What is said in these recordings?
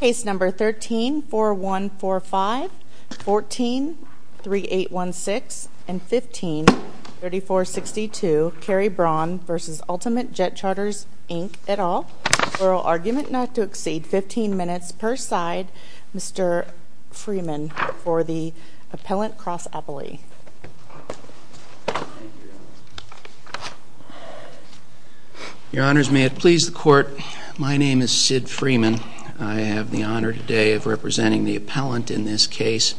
Case No. 13-4145, 14-3816, and 15-3462, Kerry Braun v. Ultimate Jetcharters Inc. et al. Oral argument not to exceed 15 minutes per side. Mr. Freeman for the Appellant Cross-Appley. Your Honors, may it please the Court, my name is Sid Freeman. I have the honor today of representing the appellant in this case,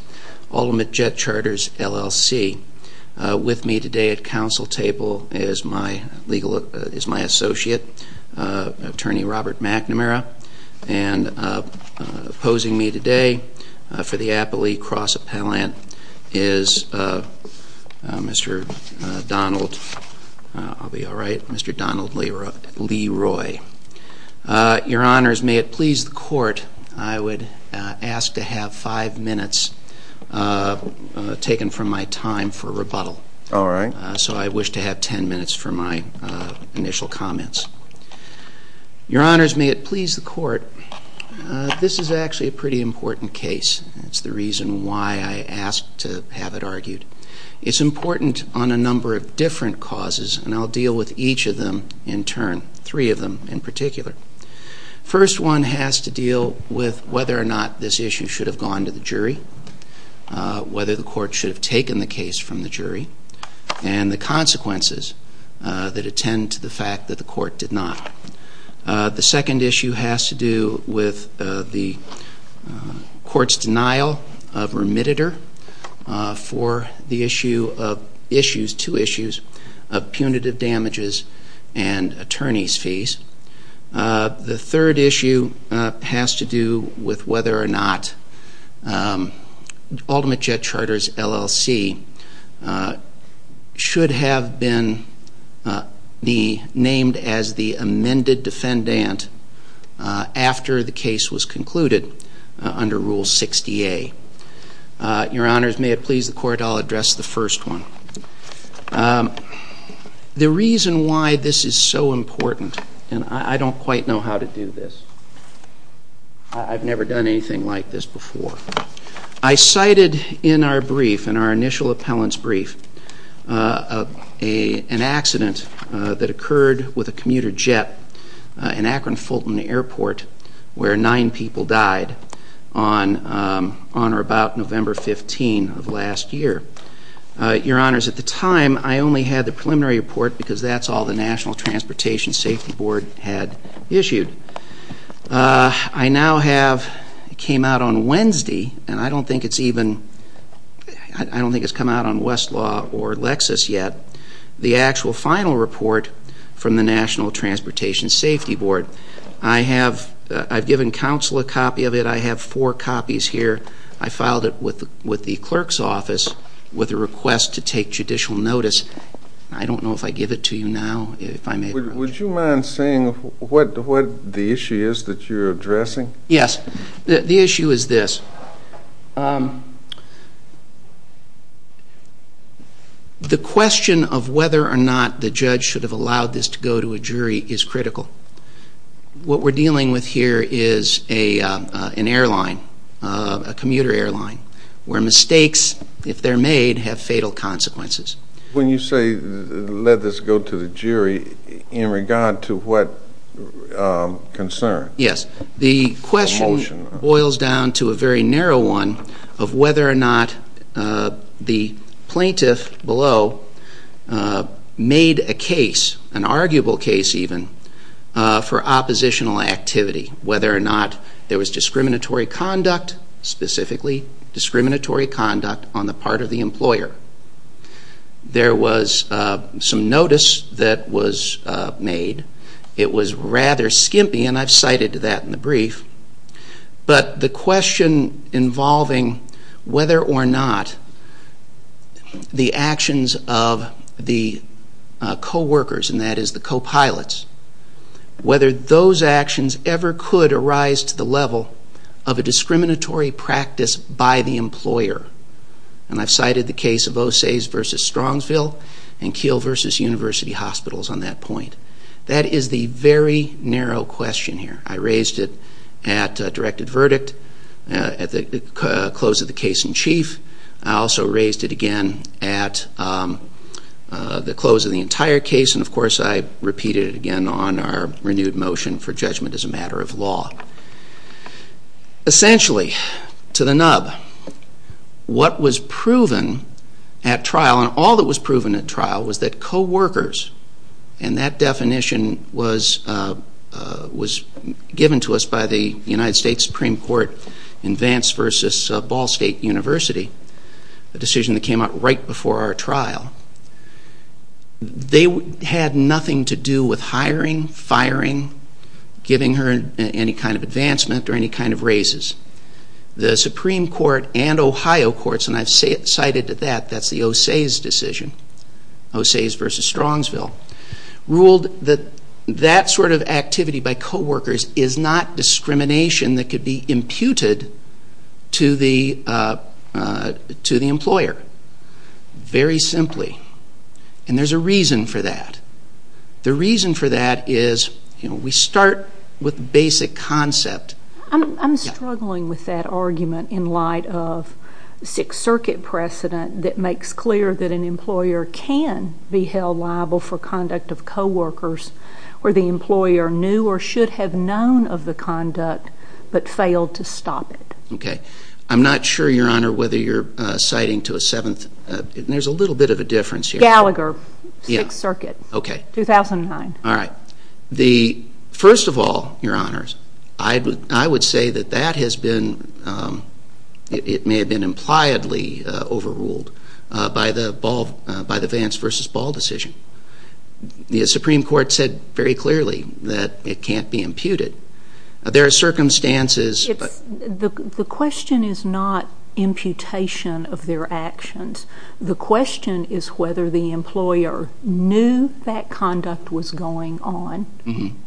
Ultimate Jetcharters LLC. With me today at counsel table is my legal associate, Attorney Robert McNamara, and opposing me today for the Appley Cross-Appellant is Mr. Donald Leroy. Your Honors, may it please the Court, I would ask to have five minutes taken from my time for rebuttal. So I wish to have ten minutes for my initial comments. Your Honors, may it please the Court, this is actually a pretty important case. It's the reason why I ask to have it argued. It's important on a number of different causes, and I'll deal with each of them in turn, three of them in particular. First one has to deal with whether or not this issue should have gone to the jury, whether the Court should have taken the case from the jury, and the consequences that attend to the fact that the Court did not. The second issue has to do with the Court's denial of remittitor for the issue of issues, two issues, of punitive damages and attorney's fees. The third issue has to do with whether or not Ultimate Jetcharters LLC should have been named as the Your Honors, may it please the Court, I'll address the first one. The reason why this is so important, and I don't quite know how to do this. I've never done anything like this before. I cited in our brief, in our initial appellant's brief, an accident that occurred with a commuter jet in Akron Fulton Airport where nine people died on or about November 15 of last year. Your Honors, at the time I only had the preliminary report because that's all the National Transportation Safety Board had issued. I now have, it came out on Wednesday, and I don't think it's even, I don't think it's come out on Westlaw or Lexis yet, the actual final report from the National Transportation Safety Board. I have, I've given counsel a copy of it. I have four copies here. I filed it with the clerk's office with a request to take judicial notice. I don't know if I give it to you now, if I may. Would you mind saying what the issue is that you're addressing? Yes. The issue is this. The question of whether or not the judge should have allowed this to go to a jury is critical. What we're dealing with here is an airline, a commuter airline, where mistakes, if they're made, have fatal consequences. When you say let this go to the jury, in regard to what concern? Yes. The question boils down to a very narrow one of whether or not the plaintiff below made a case, an arguable case even, for oppositional activity, whether or not there was discriminatory conduct, specifically discriminatory conduct on the part of the employer. There was some notice that was made. It was rather skimpy, and I've cited that in the brief. But the question involving whether or not the actions of the co-workers, and that is the co-pilots, whether those actions ever could arise to the level of a discriminatory practice by the employer. And I've cited the case of Osage v. Strongsville and Keel v. University Hospitals on that point. That is the very narrow question here. I raised it at directed verdict, at the close of the case in chief. I also raised it again at the close of the entire case, and of course I repeated it again on our renewed motion for judgment as a matter of law. Essentially, to the nub, what was proven at trial, and all that was proven at trial, was that co-workers, and that definition was given to us by the United States Supreme Court in Vance v. Ball State University, the decision that came out right before our trial, they had nothing to do with hiring, firing, giving her any kind of advancement or any kind of raises. The Supreme Court and Ohio courts, and I've cited that, that's the Osage decision, Osage v. Strongsville, ruled that that sort of activity by co-workers is not discrimination that could be imputed to the employer, very simply. And there's a reason for that. The reason for that is, you know, we start with basic concept. I'm struggling with that argument in light of Sixth Circuit precedent that makes clear that an employer can be held liable for conduct of co-workers, or the employer knew or should have known of the conduct, but failed to stop it. I'm not sure, Your Honor, whether you're citing to a seventh, there's a little bit of a difference here. Gallagher, Sixth Circuit, 2009. First of all, Your Honors, I would say that that has been, it may have been impliedly overruled by the Vance v. Ball decision. The Supreme Court said very clearly that it can't be imputed. There are circumstances. The question is not imputation of their actions. The question is whether the employer knew that conduct was going on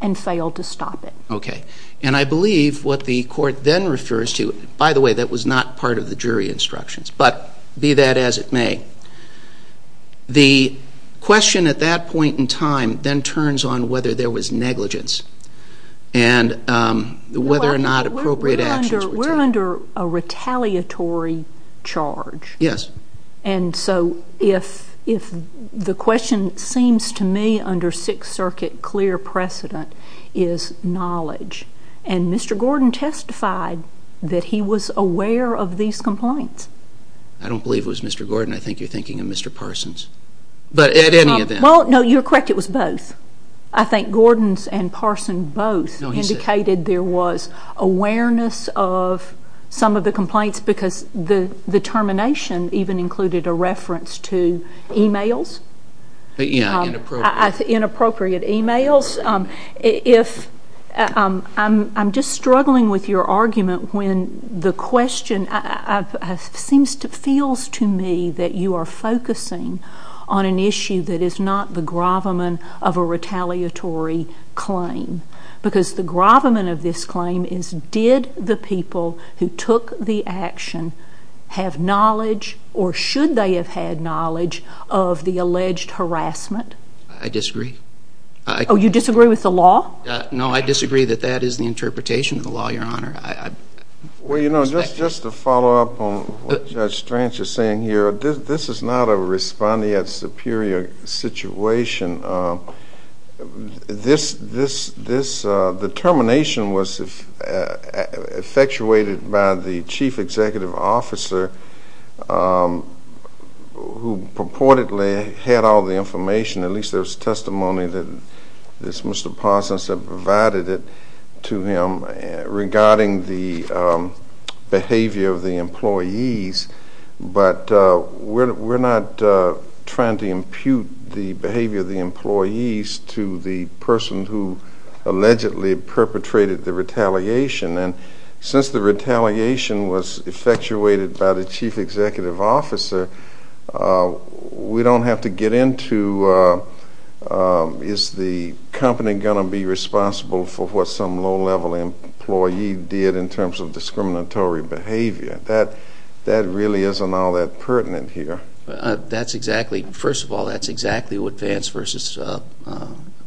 and failed to stop it. Okay. And I believe what the court then refers to, by the way, that was not part of the jury instructions, but be that as it may, the question at that point in time then turns on whether there was negligence and whether or not appropriate actions were taken. We're under a retaliatory charge. Yes. And so if the question seems to me under Sixth Circuit clear precedent is knowledge. And Mr. Gordon testified that he was aware of these complaints. I don't believe it was Mr. Gordon. I think you're thinking of Mr. Parsons. But at any event. Well, no, you're correct. It was both. I think Gordon and Parsons both indicated there was awareness of some of the complaints because the termination even included a reference to e-mails. Yeah, inappropriate. Inappropriate e-mails. I'm just struggling with your argument when the question feels to me that you are focusing on an issue that is not the gravamen of a retaliatory claim. Because the gravamen of this claim is did the people who took the action have knowledge or should they have had knowledge of the alleged harassment? I disagree. Oh, you disagree with the law? No, I disagree that that is the interpretation of the law, Your Honor. Well, you know, just to follow up on what Judge Strange is saying here, this is not a respondeat superior situation. This determination was effectuated by the chief executive officer who purportedly had all the information. At least there was testimony that Mr. Parsons had provided to him regarding the behavior of the employees. But we're not trying to impute the behavior of the employees to the person who allegedly perpetrated the retaliation. And since the retaliation was effectuated by the chief executive officer, we don't have to get into is the company going to be responsible for what some low-level employee did in terms of discriminatory behavior. That really isn't all that pertinent here. That's exactly, first of all, that's exactly what Vance v.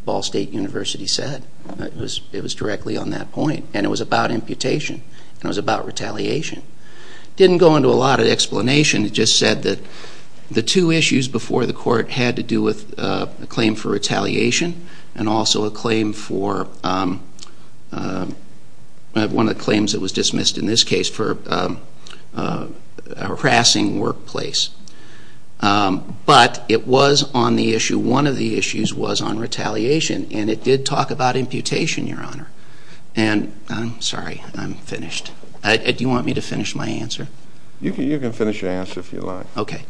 Ball State University said. It was directly on that point. And it was about imputation. And it was about retaliation. It didn't go into a lot of explanation. It just said that the two issues before the court had to do with a claim for retaliation and also a claim for one of the claims that was dismissed in this case for harassing workplace. But it was on the issue. One of the issues was on retaliation. And it did talk about imputation, Your Honor. And I'm sorry. I'm finished. Do you want me to finish my answer? You can finish your answer if you like. Okay.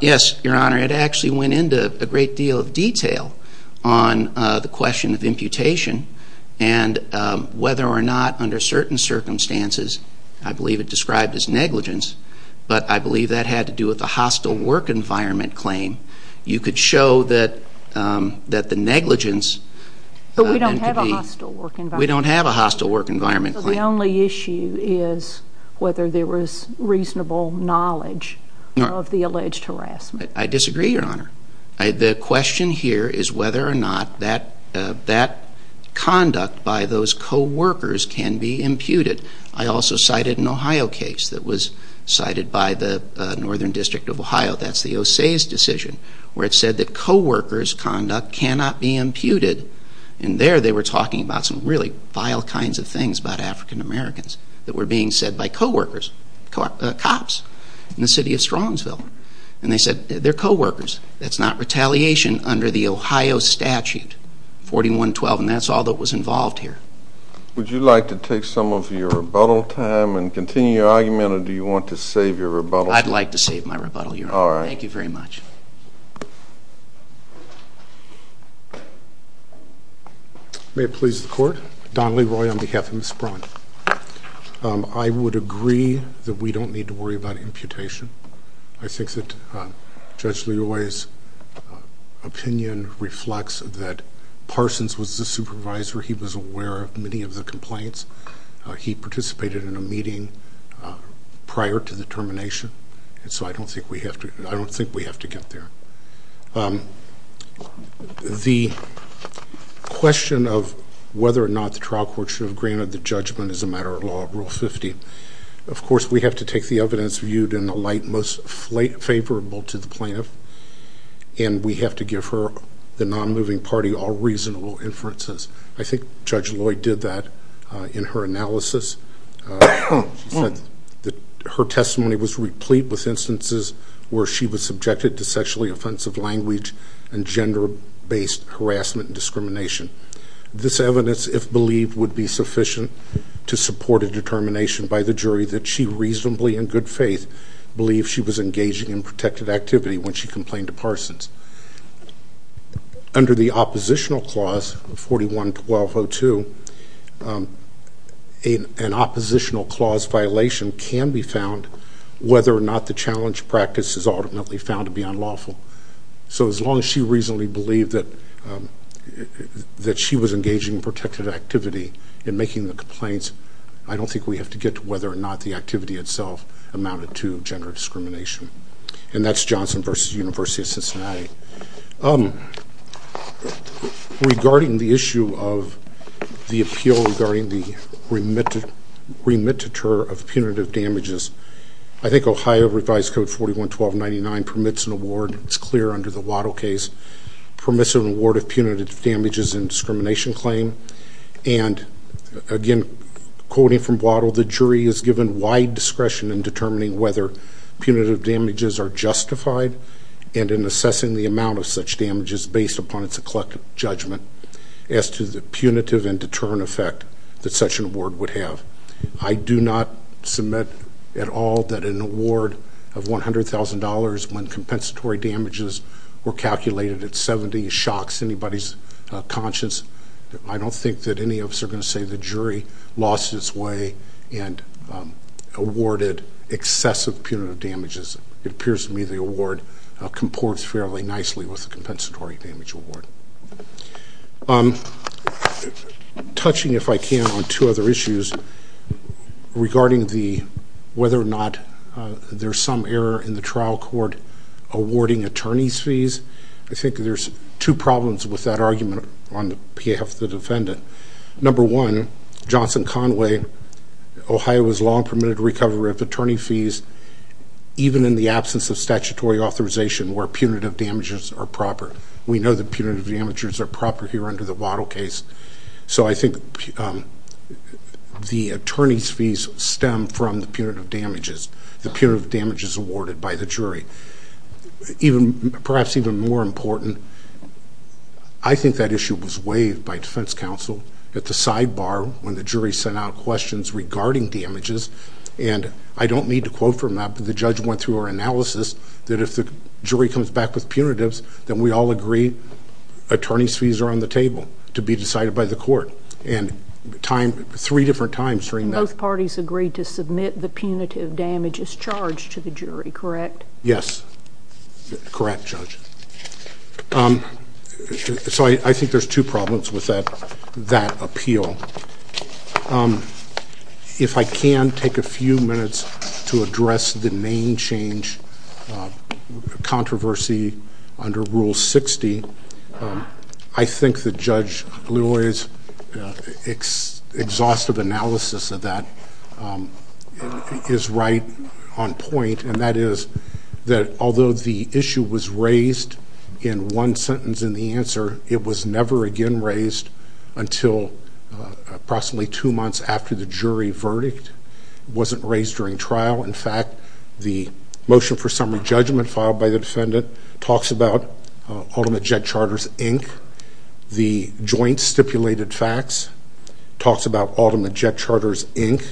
Yes, Your Honor. It actually went into a great deal of detail on the question of imputation and whether or not, under certain circumstances, I believe it described as negligence. But I believe that had to do with a hostile work environment claim. You could show that the negligence… But we don't have a hostile work environment. We don't have a hostile work environment claim. So the only issue is whether there was reasonable knowledge of the alleged harassment. I disagree, Your Honor. The question here is whether or not that conduct by those co-workers can be imputed. I also cited an Ohio case that was cited by the Northern District of Ohio. That's the OSEI's decision where it said that co-workers' conduct cannot be imputed. And there they were talking about some really vile kinds of things about African-Americans that were being said by co-workers, cops, in the city of Strongsville. And they said they're co-workers. That's not retaliation under the Ohio statute 41-12. And that's all that was involved here. Would you like to take some of your rebuttal time and continue your argument? Or do you want to save your rebuttal? I'd like to save my rebuttal, Your Honor. All right. Thank you very much. May it please the Court. Don Leroy on behalf of Ms. Braun. I would agree that we don't need to worry about imputation. I think that Judge Leroy's opinion reflects that Parsons was the supervisor. He was aware of many of the complaints. He participated in a meeting prior to the termination. And so I don't think we have to get there. The question of whether or not the trial court should have granted the judgment is a matter of law, Rule 50. Of course, we have to take the evidence viewed in the light most favorable to the plaintiff. And we have to give her, the non-moving party, all reasonable inferences. I think Judge Leroy did that in her analysis. She said that her testimony was replete with instances where she was subjected to sexually offensive language and gender-based harassment and discrimination. This evidence, if believed, would be sufficient to support a determination by the jury that she reasonably, in good faith, believed she was engaging in protected activity when she complained to Parsons. Under the oppositional clause of 41-1202, an oppositional clause violation can be found whether or not the challenge practice is ultimately found to be unlawful. So as long as she reasonably believed that she was engaging in protected activity in making the complaints, I don't think we have to get to whether or not the activity itself amounted to gender discrimination. And that's Johnson v. University of Cincinnati. Regarding the issue of the appeal regarding the remittiture of punitive damages, I think Ohio Revised Code 41-1299 permits an award, it's clear under the Waddle case, permits an award of punitive damages and discrimination claim. And again, quoting from Waddle, the jury is given wide discretion in determining whether punitive damages are justified and in assessing the amount of such damages based upon its collective judgment as to the punitive and deterrent effect that such an award would have. I do not submit at all that an award of $100,000 when compensatory damages were calculated at 70 shocks anybody's conscience. I don't think that any of us are going to say the jury lost its way and awarded excessive punitive damages. It appears to me the award comports fairly nicely with the compensatory damage award. Touching, if I can, on two other issues regarding whether or not there's some error in the trial court awarding attorney's fees, I think there's two problems with that argument on behalf of the defendant. Number one, Johnson Conway, Ohio, was long permitted recovery of attorney fees even in the absence of statutory authorization where punitive damages are proper. We know that punitive damages are proper here under the Waddle case. So I think the attorney's fees stem from the punitive damages, the punitive damages awarded by the jury. Perhaps even more important, I think that issue was waived by defense counsel at the sidebar when the jury sent out questions regarding damages. And I don't need to quote from that, but the judge went through our analysis that if the jury comes back with punitives, then we all agree attorney's fees are on the table to be decided by the court three different times during that. Both parties agreed to submit the punitive damages charged to the jury, correct? Yes, correct, Judge. So I think there's two problems with that appeal. If I can take a few minutes to address the name change controversy under Rule 60, I think that Judge Leroy's exhaustive analysis of that is right on point, and that is that although the issue was raised in one sentence in the answer, it was never again raised until approximately two months after the jury verdict. It wasn't raised during trial. In fact, the motion for summary judgment filed by the defendant talks about Ultimate Jet Charters, Inc. The joint stipulated facts talks about Ultimate Jet Charters, Inc.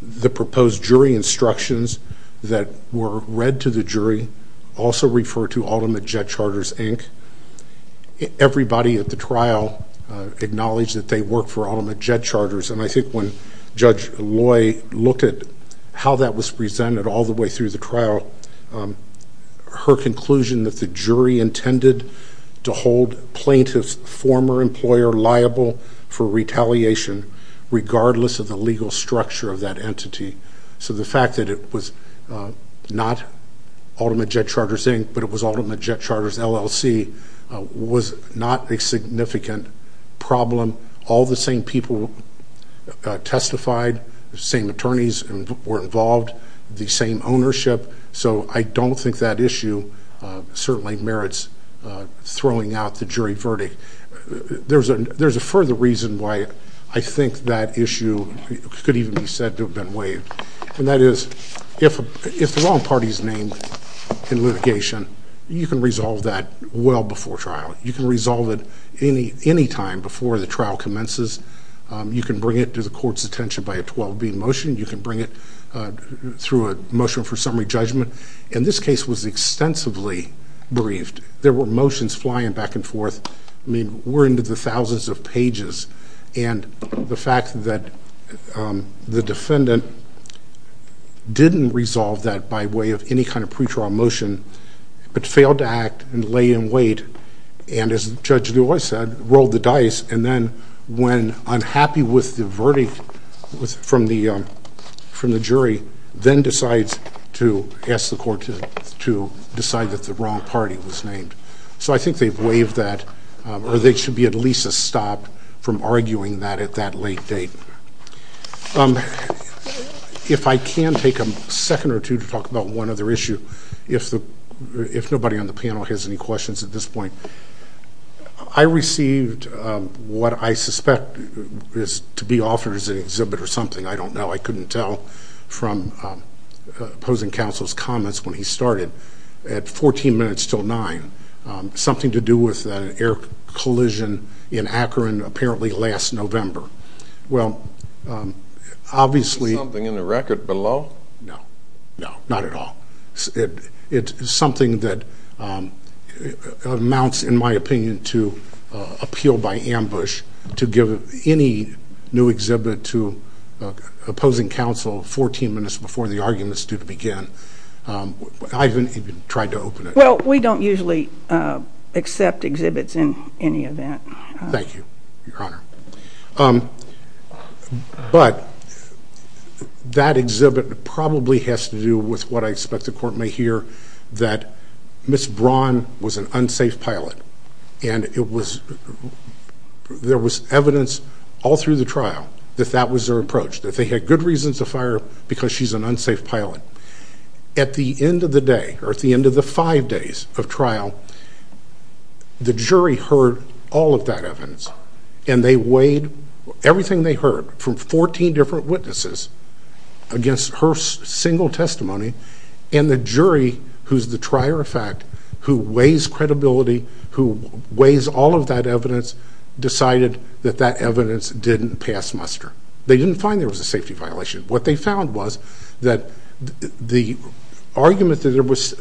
The proposed jury instructions that were read to the jury also refer to Ultimate Jet Charters, Inc. Everybody at the trial acknowledged that they worked for Ultimate Jet Charters, and I think when Judge Loy looked at how that was presented all the way through the trial, her conclusion that the jury intended to hold plaintiff's former employer liable for retaliation regardless of the legal structure of that entity. So the fact that it was not Ultimate Jet Charters, Inc., but it was Ultimate Jet Charters, LLC, was not a significant problem. All the same people testified, the same attorneys were involved, the same ownership. So I don't think that issue certainly merits throwing out the jury verdict. There's a further reason why I think that issue could even be said to have been waived, and that is if the wrong party is named in litigation, you can resolve that well before trial. You can resolve it any time before the trial commences. You can bring it to the court's attention by a 12-B motion. You can bring it through a motion for summary judgment. And this case was extensively briefed. There were motions flying back and forth. I mean, we're into the thousands of pages, and the fact that the defendant didn't resolve that by way of any kind of pretrial motion, but failed to act and lay in wait and, as Judge Loy said, rolled the dice, and then when unhappy with the verdict from the jury, then decides to ask the court to decide that the wrong party was named. So I think they've waived that, or there should be at least a stop from arguing that at that late date. If I can take a second or two to talk about one other issue, if nobody on the panel has any questions at this point. I received what I suspect is to be offered as an exhibit or something. I don't know. I couldn't tell from opposing counsel's comments when he started. At 14 minutes till 9, something to do with an air collision in Akron apparently last November. Well, obviously. Is there something in the record below? No. No, not at all. It's something that amounts, in my opinion, to appeal by ambush to give any new exhibit to opposing counsel 14 minutes before the arguments do begin. I haven't even tried to open it. Well, we don't usually accept exhibits in any event. Thank you, Your Honor. But that exhibit probably has to do with what I expect the court may hear, that Ms. Braun was an unsafe pilot, and there was evidence all through the trial that that was their approach, that they had good reasons to fire her because she's an unsafe pilot. At the end of the day, or at the end of the five days of trial, the jury heard all of that evidence, and they weighed everything they heard from 14 different witnesses against her single testimony, and the jury, who's the trier of fact, who weighs credibility, who weighs all of that evidence, decided that that evidence didn't pass muster. They didn't find there was a safety violation. What they found was that the argument that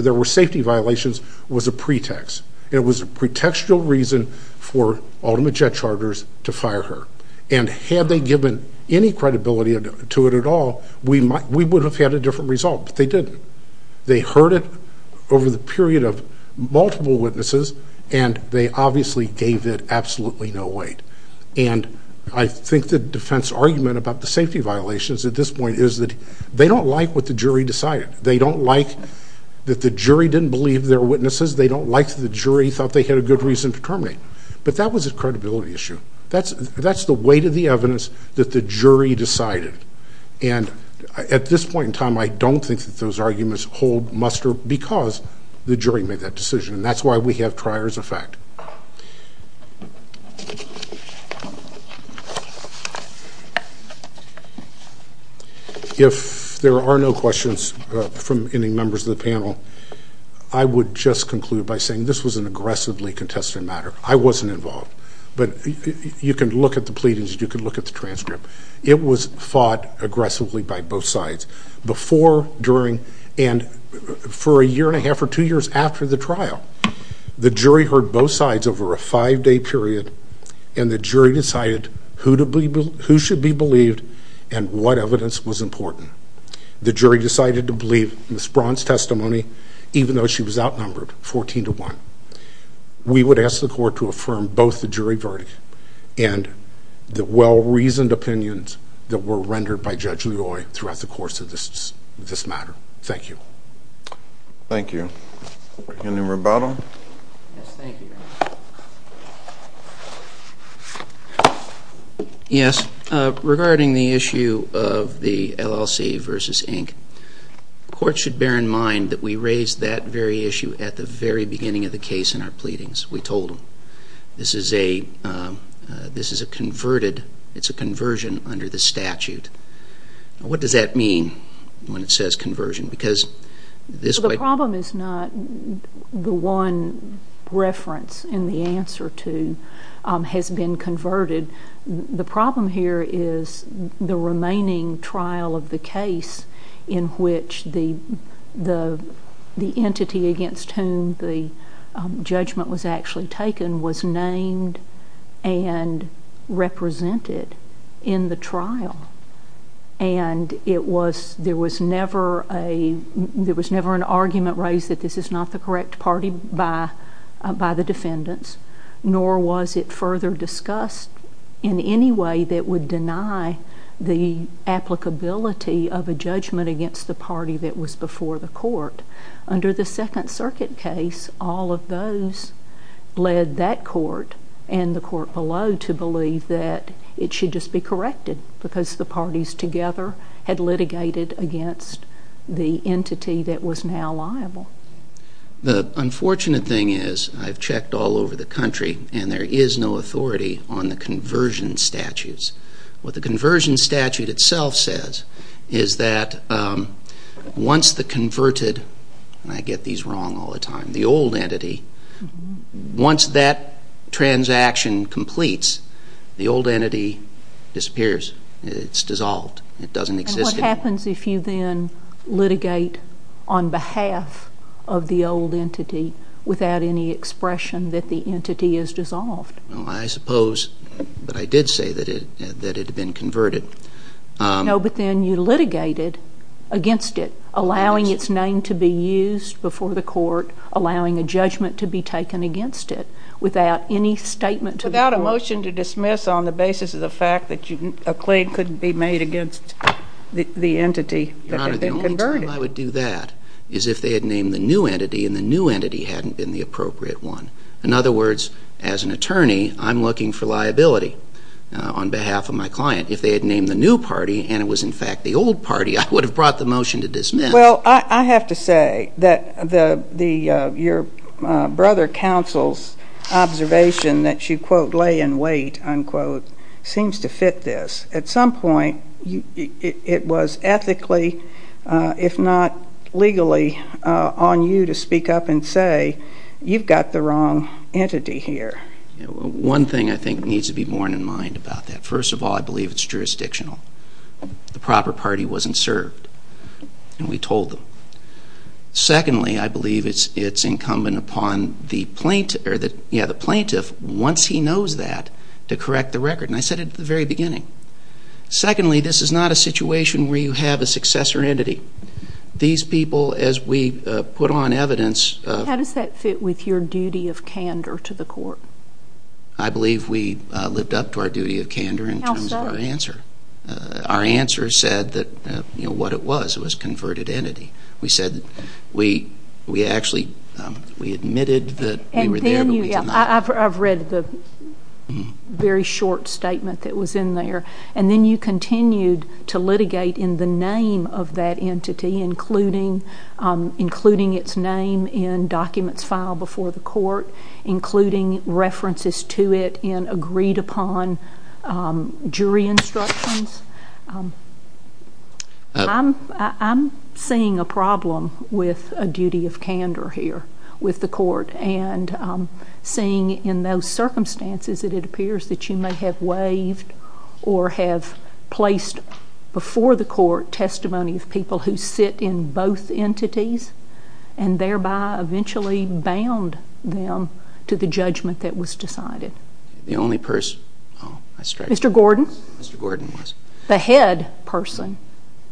there were safety violations was a pretext, and it was a pretextual reason for Ultimate Jet Charters to fire her, and had they given any credibility to it at all, we would have had a different result, but they didn't. They heard it over the period of multiple witnesses, and they obviously gave it absolutely no weight, and I think the defense argument about the safety violations at this point is that they don't like what the jury decided. They don't like that the jury didn't believe their witnesses. They don't like that the jury thought they had a good reason to terminate, but that was a credibility issue. That's the weight of the evidence that the jury decided, and at this point in time, I don't think that those arguments hold muster because the jury made that decision, and that's why we have trier's effect. If there are no questions from any members of the panel, I would just conclude by saying this was an aggressively contested matter. I wasn't involved, but you can look at the pleadings. You can look at the transcript. It was fought aggressively by both sides before, during, and for a year and a half or two years after the trial. The jury heard both sides over a five-day period, and the jury decided who should be believed and what evidence was important. The jury decided to believe Ms. Braun's testimony, even though she was outnumbered 14 to 1. We would ask the court to affirm both the jury verdict and the well-reasoned opinions that were rendered by Judge Loy throughout the course of this matter. Thank you. Thank you. Any rebuttal? Yes, thank you. Yes. We told them. This is a converted, it's a conversion under the statute. What does that mean when it says conversion? The problem is not the one reference in the answer to has been converted. The problem here is the remaining trial of the case in which the entity against whom the judgment was actually taken was named and represented in the trial, and there was never an argument raised that this is not the correct party by the defendants, nor was it further discussed in any way that would deny the applicability of a judgment against the party that was before the court. Under the Second Circuit case, all of those led that court and the court below to believe that it should just be corrected because the parties together had litigated against the entity that was now liable. The unfortunate thing is I've checked all over the country, and there is no authority on the conversion statutes. What the conversion statute itself says is that once the converted, and I get these wrong all the time, the old entity, once that transaction completes, the old entity disappears. It's dissolved. It doesn't exist anymore. What happens if you then litigate on behalf of the old entity without any expression that the entity is dissolved? Well, I suppose, but I did say that it had been converted. No, but then you litigated against it, allowing its name to be used before the court, allowing a judgment to be taken against it without any statement to the court. on the basis of the fact that a claim couldn't be made against the entity that had been converted. Your Honor, the only time I would do that is if they had named the new entity and the new entity hadn't been the appropriate one. In other words, as an attorney, I'm looking for liability on behalf of my client. If they had named the new party and it was, in fact, the old party, I would have brought the motion to dismiss. Well, I have to say that your brother counsel's observation that you, quote, lay in wait, unquote, seems to fit this. At some point, it was ethically, if not legally, on you to speak up and say you've got the wrong entity here. One thing I think needs to be borne in mind about that. First of all, I believe it's jurisdictional. The proper party wasn't served, and we told them. Secondly, I believe it's incumbent upon the plaintiff, once he knows that, to correct the record. And I said it at the very beginning. Secondly, this is not a situation where you have a successor entity. These people, as we put on evidence... How does that fit with your duty of candor to the court? I believe we lived up to our duty of candor in terms of our answer. Our answer said what it was. It was converted entity. We said we actually admitted that we were there, but we did not. I've read the very short statement that was in there. And then you continued to litigate in the name of that entity, including its name in documents filed before the court, including references to it in agreed-upon jury instructions. I'm seeing a problem with a duty of candor here with the court, and seeing in those circumstances that it appears that you may have waived or have placed before the court testimony of people who sit in both entities and thereby eventually bound them to the judgment that was decided. The only person... Mr. Gordon? Mr. Gordon was... The head person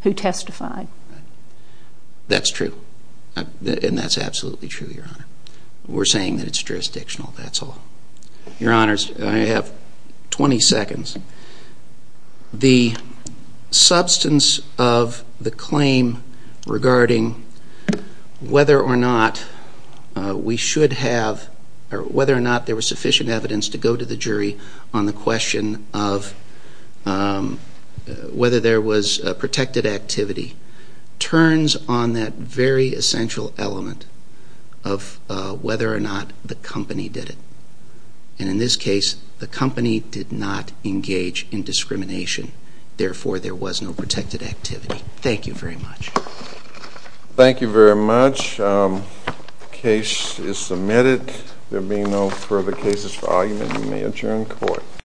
who testified. That's true. And that's absolutely true, Your Honor. We're saying that it's jurisdictional, that's all. Your Honors, I have 20 seconds. The substance of the claim regarding whether or not we should have or whether or not there was sufficient evidence to go to the jury on the question of whether there was protected activity turns on that very essential element of whether or not the company did it. And in this case, the company did not engage in discrimination. Therefore, there was no protected activity. Thank you very much. Thank you very much. The case is submitted. There being no further cases for argument, we may adjourn court.